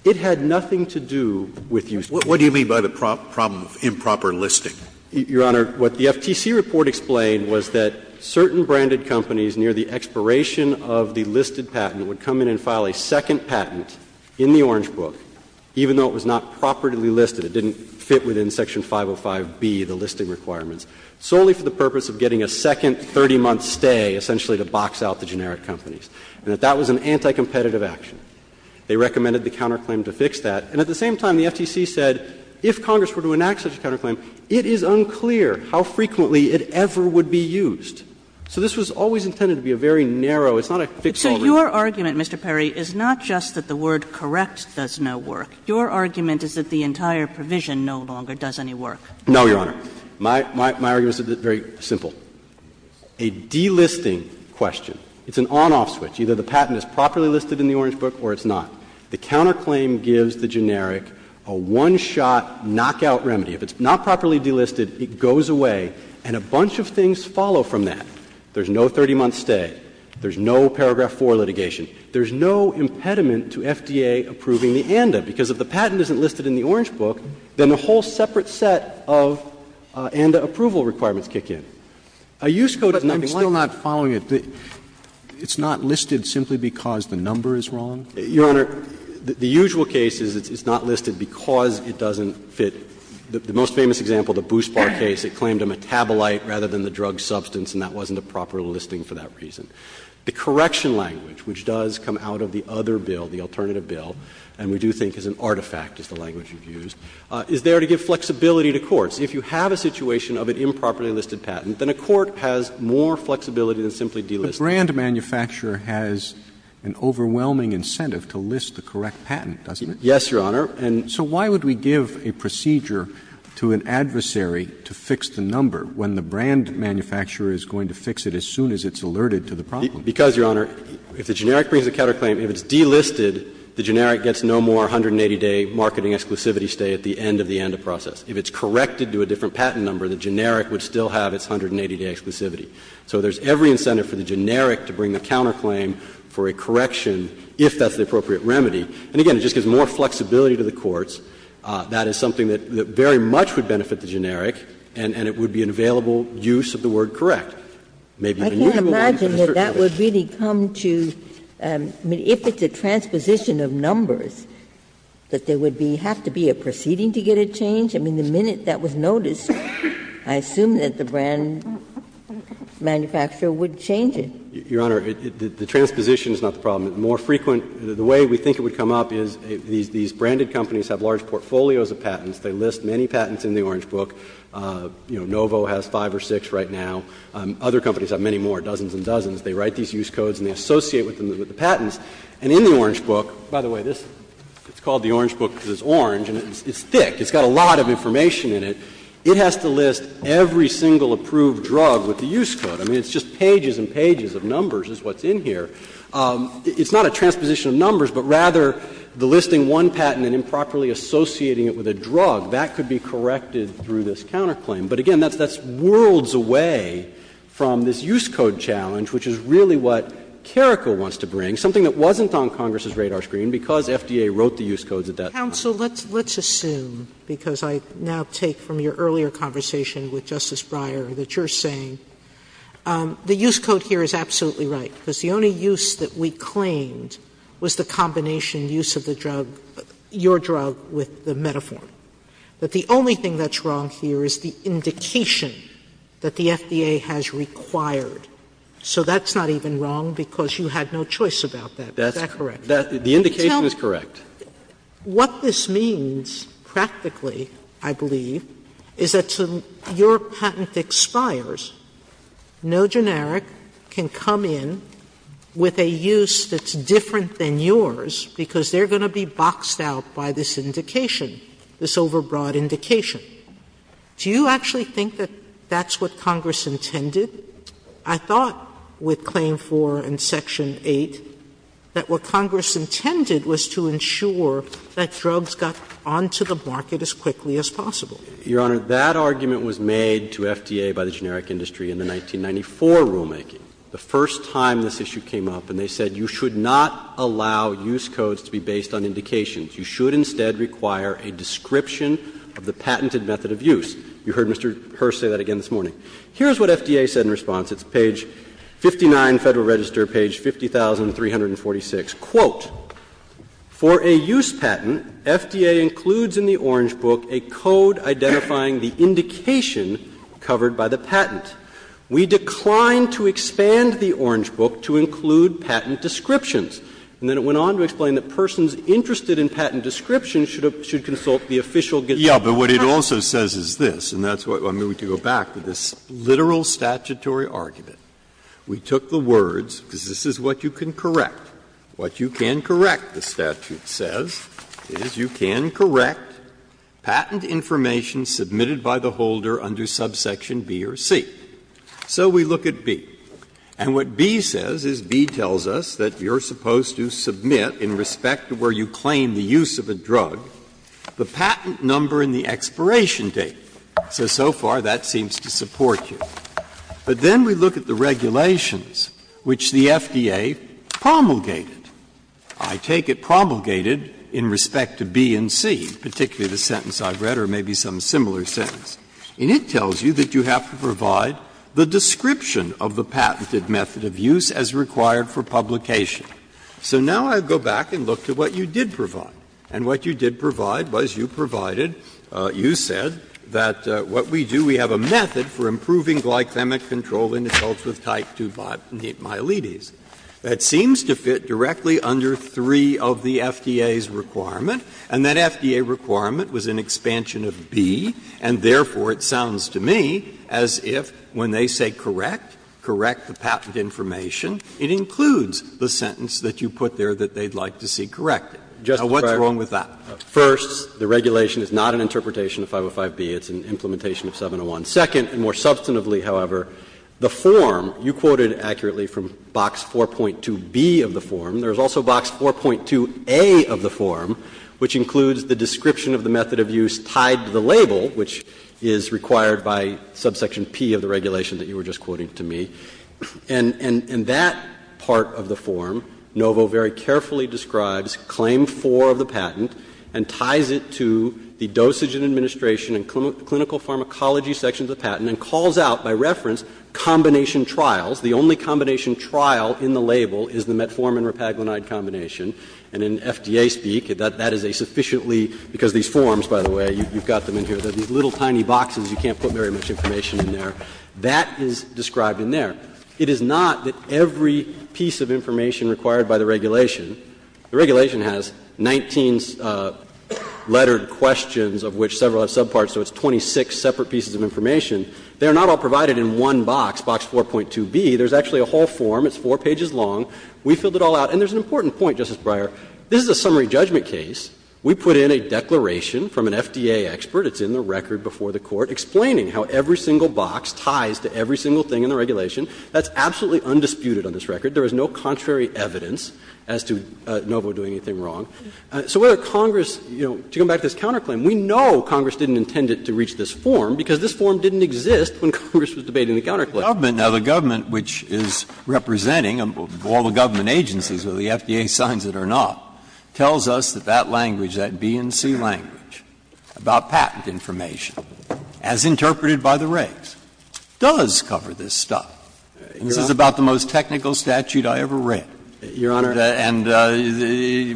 It had nothing to do with use of patent. Scalia, what do you mean by the problem of improper listing? Your Honor, what the FTC report explained was that certain branded companies near the expiration of the listed patent would come in and file a second patent in the Orange Book, even though it was not properly listed. It didn't fit within section 505B, the listing requirements, solely for the purpose of getting a second 30-month stay, essentially to box out the generic companies. And that that was an anti-competitive action. They recommended the counterclaim to fix that. And at the same time, the FTC said if Congress were to enact such a counterclaim, it is unclear how frequently it ever would be used. So this was always intended to be a very narrow, it's not a fixed ballroom. Kagan. So your argument, Mr. Perry, is not just that the word correct does no work. Your argument is that the entire provision no longer does any work. No, Your Honor. My argument is very simple. A delisting question, it's an on-off switch. Either the patent is properly listed in the Orange Book or it's not. The counterclaim gives the generic a one-shot knockout remedy. If it's not properly delisted, it goes away, and a bunch of things follow from that. There's no 30-month stay. There's no paragraph 4 litigation. There's no impediment to FDA approving the ANDA, because if the patent isn't listed in the Orange Book, then a whole separate set of ANDA approval requirements kick in. A use code is nothing like that. Sotomayor, I'm still not following it. It's not listed simply because the number is wrong? Your Honor, the usual case is it's not listed because it doesn't fit. The most famous example, the Boost Bar case, it claimed a metabolite rather than the drug substance, and that wasn't a proper listing for that reason. The correction language, which does come out of the other bill, the alternative bill, and we do think is an artifact, is the language you've used, is there to give flexibility to courts. If you have a situation of an improperly listed patent, then a court has more flexibility than simply delisting. But brand manufacturer has an overwhelming incentive to list the correct patent, doesn't it? Yes, Your Honor. And so why would we give a procedure to an adversary to fix the number when the brand manufacturer is going to fix it as soon as it's alerted to the problem? Because, Your Honor, if the generic brings a counterclaim, if it's delisted, the generic gets no more 180-day marketing exclusivity stay at the end of the ANDA process. If it's corrected to a different patent number, the generic would still have its 180-day exclusivity. So there's every incentive for the generic to bring the counterclaim for a correction if that's the appropriate remedy. And again, it just gives more flexibility to the courts. That is something that very much would benefit the generic, and it would be an available use of the word correct. Maybe even usable use of the term correct. Ginsburg. I can't imagine that that would really come to, I mean, if it's a transposition of numbers, that there would be, have to be a proceeding to get it changed? I mean, the minute that was noticed, I assume that the brand manufacturer would change it. Your Honor, the transposition is not the problem. The more frequent, the way we think it would come up is these branded companies have large portfolios of patents. They list many patents in the Orange Book. You know, Novo has five or six right now. Other companies have many more, dozens and dozens. They write these use codes and they associate with them with the patents. And in the Orange Book, by the way, this is called the Orange Book because it's orange and it's thick. It's got a lot of information in it. It has to list every single approved drug with the use code. I mean, it's just pages and pages of numbers is what's in here. It's not a transposition of numbers, but rather the listing one patent and improperly associating it with a drug. That could be corrected through this counterclaim. But again, that's worlds away from this use code challenge, which is really what Carrico wants to bring, something that wasn't on Congress's radar screen because FDA wrote the use codes at that time. Sotomayor, let's assume, because I now take from your earlier conversation with Justice Breyer that you're saying the use code here is absolutely right, because the only use that we claimed was the combination use of the drug, your drug, with the Metaform. That the only thing that's wrong here is the indication that the FDA has required. So that's not even wrong because you had no choice about that. Is that correct? The indication is correct. Sotomayor, what this means practically, I believe, is that your patent expires. No generic can come in with a use that's different than yours because they're going to be boxed out by this indication, this overbroad indication. Do you actually think that that's what Congress intended? I thought with Claim 4 and Section 8 that what Congress intended was to ensure that drugs got onto the market as quickly as possible. Your Honor, that argument was made to FDA by the generic industry in the 1994 rulemaking. The first time this issue came up and they said you should not allow use codes to be based on indications. You should instead require a description of the patented method of use. You heard Mr. Hearst say that again this morning. Here's what FDA said in response. It's page 59, Federal Register, page 50,346. Quote, ''For a use patent, FDA includes in the Orange Book a code identifying the indication covered by the patent.'' ''We decline to expand the Orange Book to include patent descriptions.'' And then it went on to explain that persons interested in patent descriptions should consult the official gist of the patent. What it also says is this, and that's what I'm going to go back to, this literal statutory argument. We took the words, because this is what you can correct, what you can correct, the statute says, is you can correct patent information submitted by the holder under subsection B or C. So we look at B, and what B says is B tells us that you're supposed to submit in respect to where you claim the use of a drug the patent number and the expiration date. So, so far, that seems to support you. But then we look at the regulations, which the FDA promulgated. I take it promulgated in respect to B and C, particularly the sentence I've read, or maybe some similar sentence. And it tells you that you have to provide the description of the patented method of use as required for publication. So now I go back and look to what you did provide. And what you did provide was you provided, you said, that what we do, we have a method for improving glycemic control in adults with type 2 miletis. That seems to fit directly under three of the FDA's requirement, and that FDA requirement was an expansion of B, and therefore it sounds to me as if when they say correct, correct the patent information, it includes the sentence that you put there that they'd like to see corrected. Now, what's wrong with that? First, the regulation is not an interpretation of 505B. It's an implementation of 701. Second, and more substantively, however, the form, you quoted accurately from box 4.2B of the form. There is also box 4.2A of the form, which includes the description of the method of use tied to the label, which is required by subsection P of the regulation that you were just quoting to me. And that part of the form, Novo very carefully describes claim 4 of the patent and ties it to the dosage and administration and clinical pharmacology sections of the patent and calls out by reference combination trials. The only combination trial in the label is the metformin-repaglinide combination. And in FDA speak, that is a sufficiently — because these forms, by the way, you've got them in here, they're these little tiny boxes, you can't put very much information in there. That is described in there. It is not that every piece of information required by the regulation. The regulation has 19 lettered questions of which several have subparts, so it's 26 separate pieces of information. They are not all provided in one box, box 4.2B. There's actually a whole form. It's four pages long. We filled it all out. And there's an important point, Justice Breyer. This is a summary judgment case. We put in a declaration from an FDA expert. It's in the record before the Court, explaining how every single box ties to every single thing in the regulation. That's absolutely undisputed on this record. There is no contrary evidence as to Novo doing anything wrong. So whether Congress, you know, to come back to this counterclaim, we know Congress didn't intend it to reach this form, because this form didn't exist when Congress was debating the counterclaim. Breyer, which is representing all the government agencies or the FDA signs that are not, tells us that that language, that B and C language about patent information, as interpreted by the regs, does cover this stuff. This is about the most technical statute I ever read. Breyer, Your Honor. And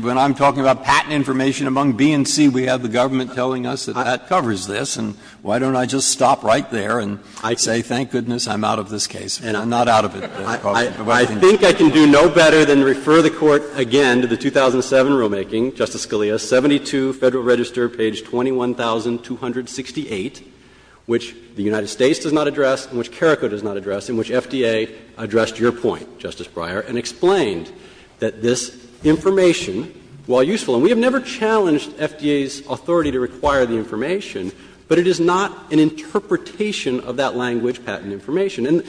when I'm talking about patent information among B and C, we have the government telling us that that covers this. And why don't I just stop right there and say, thank goodness, I'm out of this case and I'm not out of it. I think I can do no better than refer the Court again to the 2007 rulemaking, Justice Scalia, 72 Federal Register, page 21,268, which the United States does not address and which CARACO does not address and which FDA addressed your point, Justice Breyer, and explained that this information, while useful, and we have never challenged FDA's authority to require the information, but it is not an interpretation of that language, patent information. And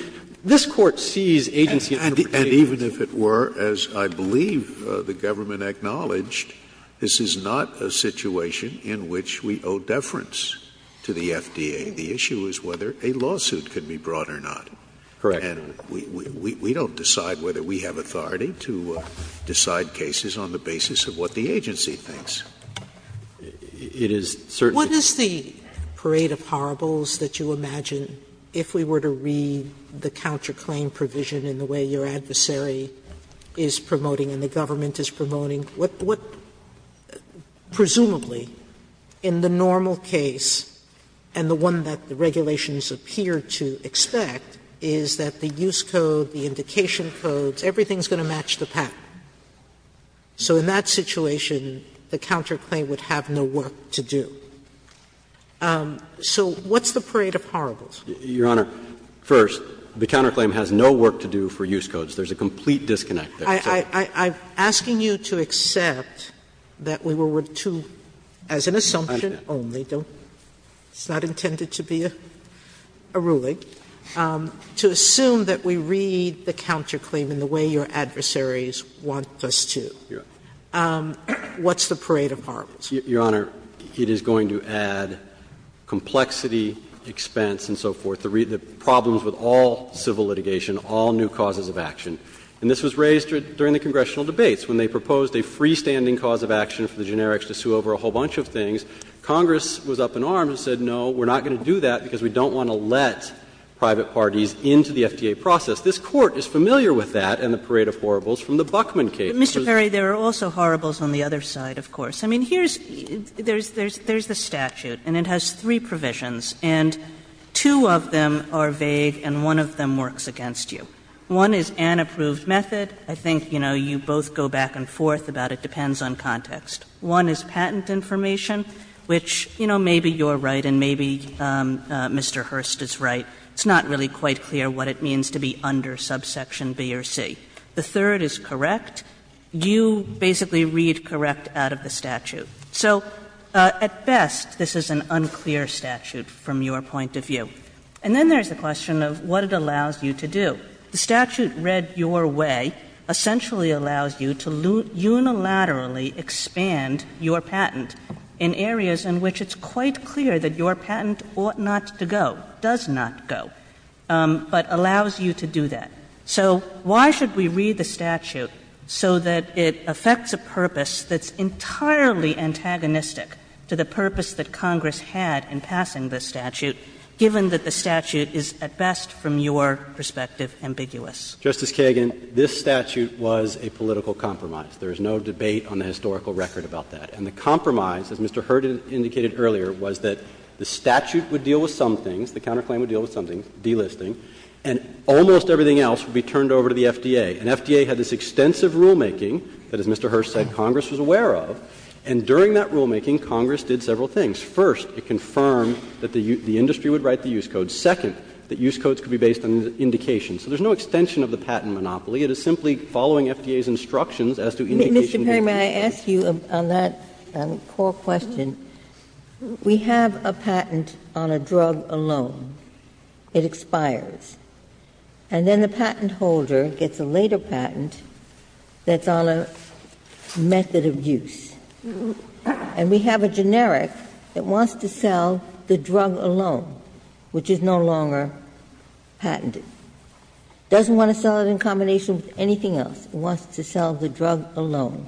this Court sees agency as an interpretation of that. And even if it were, as I believe the government acknowledged, this is not a situation in which we owe deference to the FDA. The issue is whether a lawsuit can be brought or not. Correct. And we don't decide whether we have authority to decide cases on the basis of what the counterclaim provision in the way your adversary is promoting and the government is promoting. What presumably in the normal case, and the one that the regulations appear to expect, is that the use code, the indication codes, everything is going to match the patent. So in that situation, the counterclaim would have no work to do. So what's the parade of horribles? Your Honor, first, the counterclaim has no work to do for use codes. There's a complete disconnect there. I'm asking you to accept that we were to, as an assumption only, it's not intended to be a ruling, to assume that we read the counterclaim in the way your adversaries want us to. What's the parade of horribles? Your Honor, it is going to add complexity, expense and so forth, the problems with all civil litigation, all new causes of action. And this was raised during the congressional debates when they proposed a freestanding cause of action for the generics to sue over a whole bunch of things. Congress was up in arms and said, no, we're not going to do that because we don't want to let private parties into the FDA process. This Court is familiar with that and the parade of horribles from the Buckman case. But, Mr. Perry, there are also horribles on the other side, of course. I mean, here's the statute and it has three provisions and two of them are vague and one of them works against you. One is an approved method. I think, you know, you both go back and forth about it, depends on context. One is patent information, which, you know, maybe you're right and maybe Mr. Hurst is right. It's not really quite clear what it means to be under subsection B or C. The third is correct. You basically read correct out of the statute. So at best, this is an unclear statute from your point of view. And then there's the question of what it allows you to do. The statute read your way essentially allows you to unilaterally expand your patent in areas in which it's quite clear that your patent ought not to go, does not go, but allows you to do that. So why should we read the statute so that it affects a purpose that's entirely antagonistic to the purpose that Congress had in passing this statute, given that the statute is at best from your perspective ambiguous? Justice Kagan, this statute was a political compromise. There is no debate on the historical record about that. And the compromise, as Mr. Hurst indicated earlier, was that the statute would deal with some things, the counterclaim would deal with some things, delisting, and almost everything else would be turned over to the FDA. And FDA had this extensive rulemaking that, as Mr. Hurst said, Congress was aware of. And during that rulemaking, Congress did several things. First, it confirmed that the industry would write the use code. Second, that use codes could be based on indication. So there's no extension of the patent monopoly. It is simply following FDA's instructions as to indication being used. Ginsburg. Mr. Perry, may I ask you on that core question? We have a patent on a drug alone. It expires. And then the patent holder gets a later patent that's on a method of use. And we have a generic that wants to sell the drug alone, which is no longer patented. It doesn't want to sell it in combination with anything else. It wants to sell the drug alone.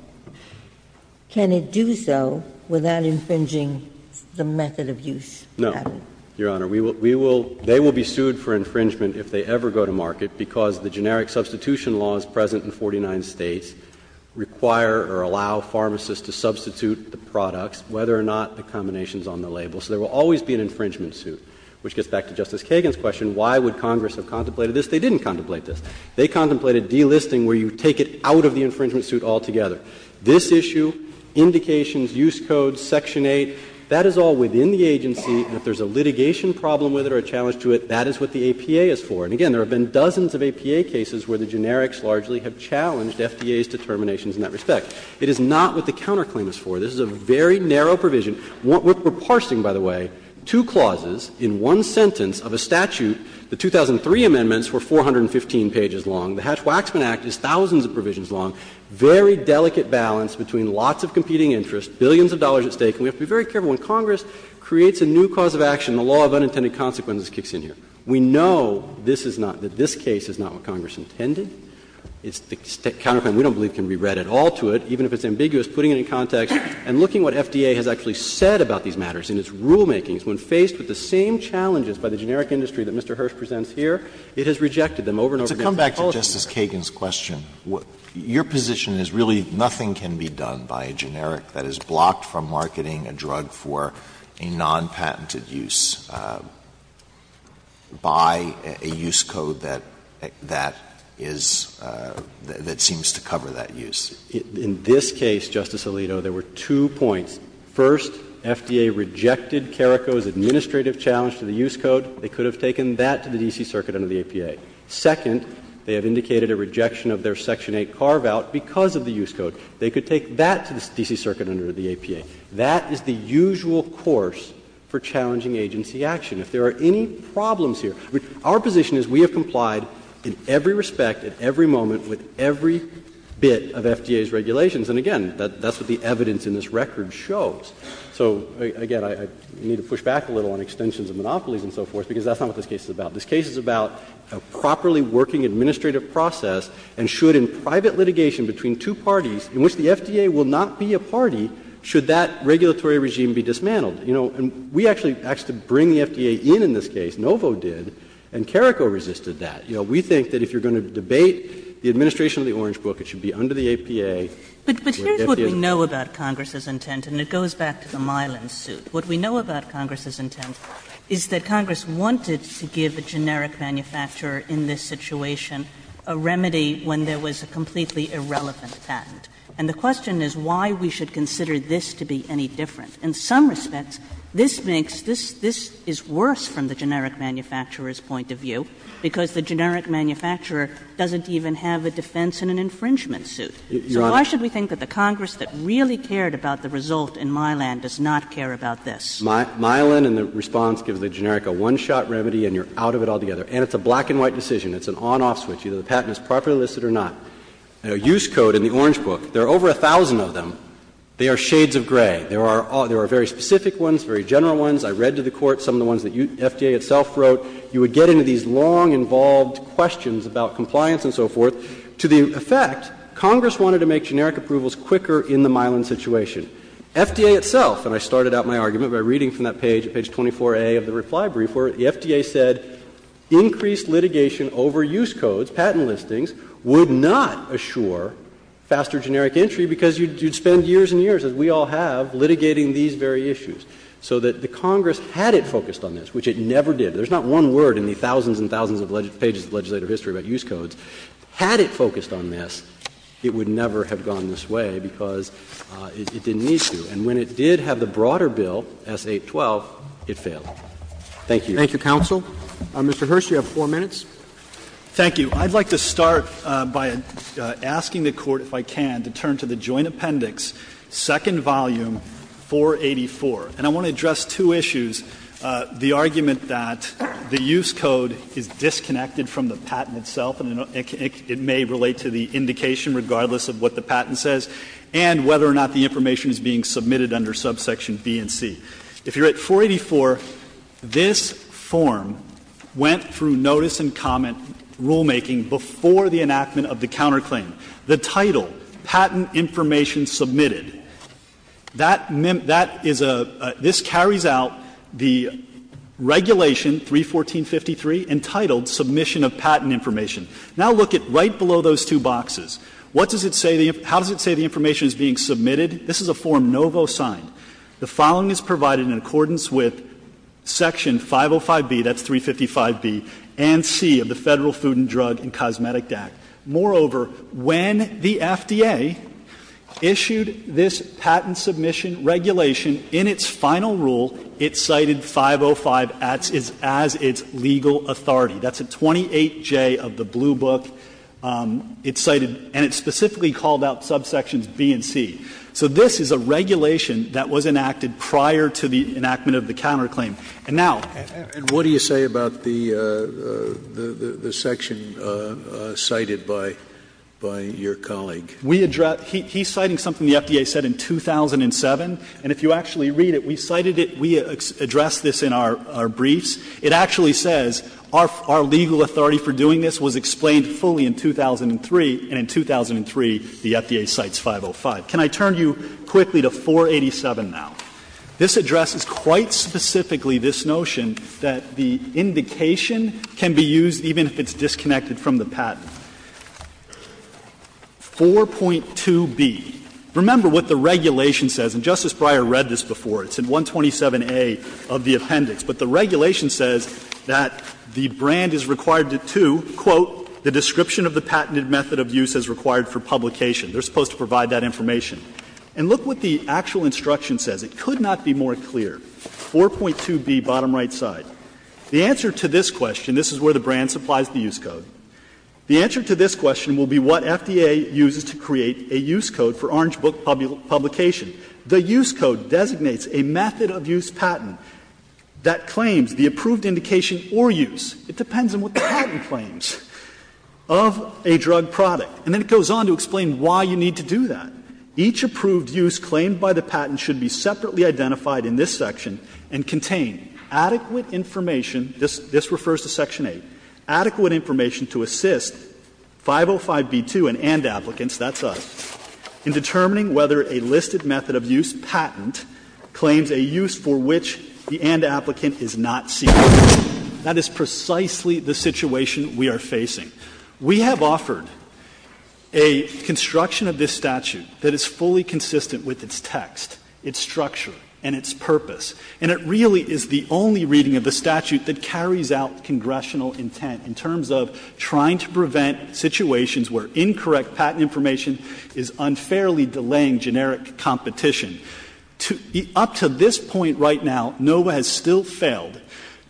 Can it do so without infringing the method of use? Perry,, No, Your Honor. We will, they will be sued for infringement if they ever go to market because the generic substitution laws present in 49 States require or allow pharmacists to substitute the products, whether or not the combination is on the label. So there will always be an infringement suit. Which gets back to Justice Kagan's question, why would Congress have contemplated this? They didn't contemplate this. They contemplated delisting where you take it out of the infringement suit altogether. This issue, indications, use codes, section 8, that is all within the agency. If there's a litigation problem with it or a challenge to it, that is what the APA is for. And again, there have been dozens of APA cases where the generics largely have challenged FDA's determinations in that respect. It is not what the counterclaim is for. This is a very narrow provision. We're parsing, by the way, two clauses in one sentence of a statute. The 2003 amendments were 415 pages long. The Hatch-Waxman Act is thousands of provisions long. Very delicate balance between lots of competing interests, billions of dollars at stake. And we have to be very careful when Congress creates a new cause of action, the law of unintended consequences kicks in here. We know this is not, that this case is not what Congress intended. It's the counterclaim we don't believe can be read at all to it, even if it's ambiguous, putting it in context and looking what FDA has actually said about these matters in its rulemakings. When faced with the same challenges by the generic industry that Mr. Hirsch presents here, it has rejected them over and over again. Alito, to come back to Justice Kagan's question, your position is really nothing can be done by a generic that is blocked from marketing a drug for a non-patented use by a use code that is, that seems to cover that use. In this case, Justice Alito, there were two points. First, FDA rejected CARICO's administrative challenge to the use code. They could have taken that to the D.C. Circuit under the APA. Second, they have indicated a rejection of their Section 8 carve-out because of the use code. They could take that to the D.C. Circuit under the APA. That is the usual course for challenging agency action. If there are any problems here, our position is we have complied in every respect, at every moment, with every bit of FDA's regulations. And again, that's what the evidence in this record shows. So, again, I need to push back a little on extensions of monopolies and so forth, because that's not what this case is about. This case is about a properly working administrative process, and should, in private litigation between two parties in which the FDA will not be a party, should that regulatory regime be dismantled? You know, and we actually asked to bring the FDA in in this case, NOVO did, and CARICO resisted that. You know, we think that if you're going to debate the administration of the Orange Book, it should be under the APA. Kagan. But here's what we know about Congress's intent, and it goes back to the Milan suit. What we know about Congress's intent is that Congress wanted to give a generic manufacturer in this situation a remedy when there was a completely irrelevant patent. And the question is why we should consider this to be any different. In some respects, this makes this — this is worse from the generic manufacturer's point of view, because the generic manufacturer doesn't even have a defense and an infringement suit. So why should we think that the Congress that really cared about the result in Milan does not care about this? Milan, in the response, gives the generic a one-shot remedy and you're out of it altogether. And it's a black-and-white decision. It's an on-off switch. Either the patent is properly listed or not. The use code in the Orange Book, there are over 1,000 of them. They are shades of gray. There are very specific ones, very general ones. I read to the Court some of the ones that FDA itself wrote. You would get into these long, involved questions about compliance and so forth. To the effect, Congress wanted to make generic approvals quicker in the Milan situation. FDA itself, and I started out my argument by reading from that page, page 24A of the reply brief, where the FDA said increased litigation over use codes, patent listings, would not assure faster generic entry because you'd spend years and years, as we all have, litigating these very issues. So that the Congress, had it focused on this, which it never did — there's not one word in the thousands and thousands of pages of legislative history about use codes Had it focused on this, it would never have gone this way because it didn't need to. And when it did have the broader bill, S. 812, it failed. Thank you. Roberts. Thank you, counsel. Mr. Hirsch, you have four minutes. Thank you. I'd like to start by asking the Court, if I can, to turn to the Joint Appendix, second volume, 484. And I want to address two issues, the argument that the use code is disconnected from the patent itself, and it may relate to the indication, regardless of what the patent says, and whether or not the information is being submitted under subsection B and C. If you're at 484, this form went through notice and comment rulemaking before the enactment of the counterclaim. The title, Patent Information Submitted, that is a — this carries out the regulation 314.53 entitled Submission of Patent Information. Now, look at right below those two boxes. What does it say the — how does it say the information is being submitted? This is a Form Novo signed. The following is provided in accordance with Section 505B, that's 355B, and C of the Federal Food and Drug and Cosmetic Act. Moreover, when the FDA issued this patent submission regulation, in its final rule it cited 505 as its legal authority. That's at 28J of the blue book. It cited — and it specifically called out subsections B and C. So this is a regulation that was enacted prior to the enactment of the counterclaim. And now — Scalia, and what do you say about the section cited by your colleague? We address — he's citing something the FDA said in 2007, and if you actually read it, we cited it, we addressed this in our briefs. It actually says our legal authority for doing this was explained fully in 2003, and in 2003 the FDA cites 505. Can I turn you quickly to 487 now? This addresses quite specifically this notion that the indication can be used even if it's disconnected from the patent. 4.2b. Remember what the regulation says, and Justice Breyer read this before. It's in 127A of the appendix. But the regulation says that the brand is required to, quote, the description of the patented method of use as required for publication. They're supposed to provide that information. And look what the actual instruction says. It could not be more clear. 4.2b, bottom right side. The answer to this question, this is where the brand supplies the use code. The answer to this question will be what FDA uses to create a use code for Orange Book publication. The use code designates a method of use patent that claims the approved indication or use, it depends on what the patent claims, of a drug product. And then it goes on to explain why you need to do that. Each approved use claimed by the patent should be separately identified in this section and contain adequate information, this refers to section 8, adequate information to assist 505b2 and and applicants, that's us, in determining whether a listed method of use patent claims a use for which the and applicant is not seeking. That is precisely the situation we are facing. We have offered a construction of this statute that is fully consistent with its text, its structure, and its purpose. And it really is the only reading of the statute that carries out congressional intent in terms of trying to prevent situations where incorrect patent information is unfairly delaying generic competition. Up to this point right now, NOVA has still failed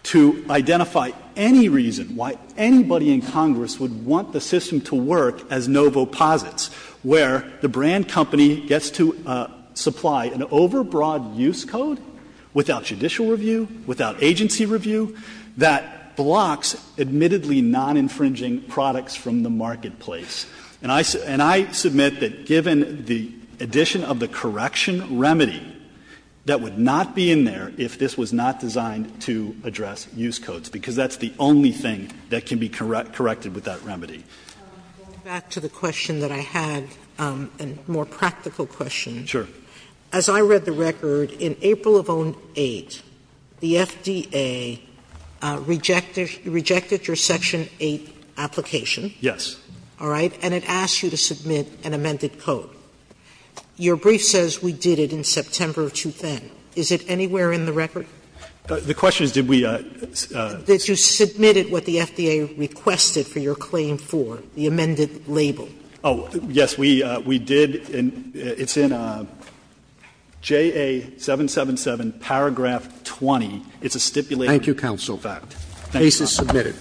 to identify any reason why anybody in Congress would want the system to work as NOVO posits, where the brand company gets to supply an overbroad use code without judicial review, without agency review, that blocks admittedly non-infringing products from the marketplace. And I submit that given the addition of the correction remedy, that would not be in there if this was not designed to address use codes, because that's the only thing that can be corrected with that remedy. Sotomayor, back to the question that I had, a more practical question. Sure. As I read the record, in April of 08, the FDA rejected your section 8 application. Yes. All right? And it asked you to submit an amended code. Your brief says we did it in September of 2010. Is it anywhere in the record? The question is, did we? That you submitted what the FDA requested for your claim for, the amended label. Oh, yes. We did and it's in JA777 paragraph 20. It's a stipulated fact. Thank you, counsel. The case is submitted.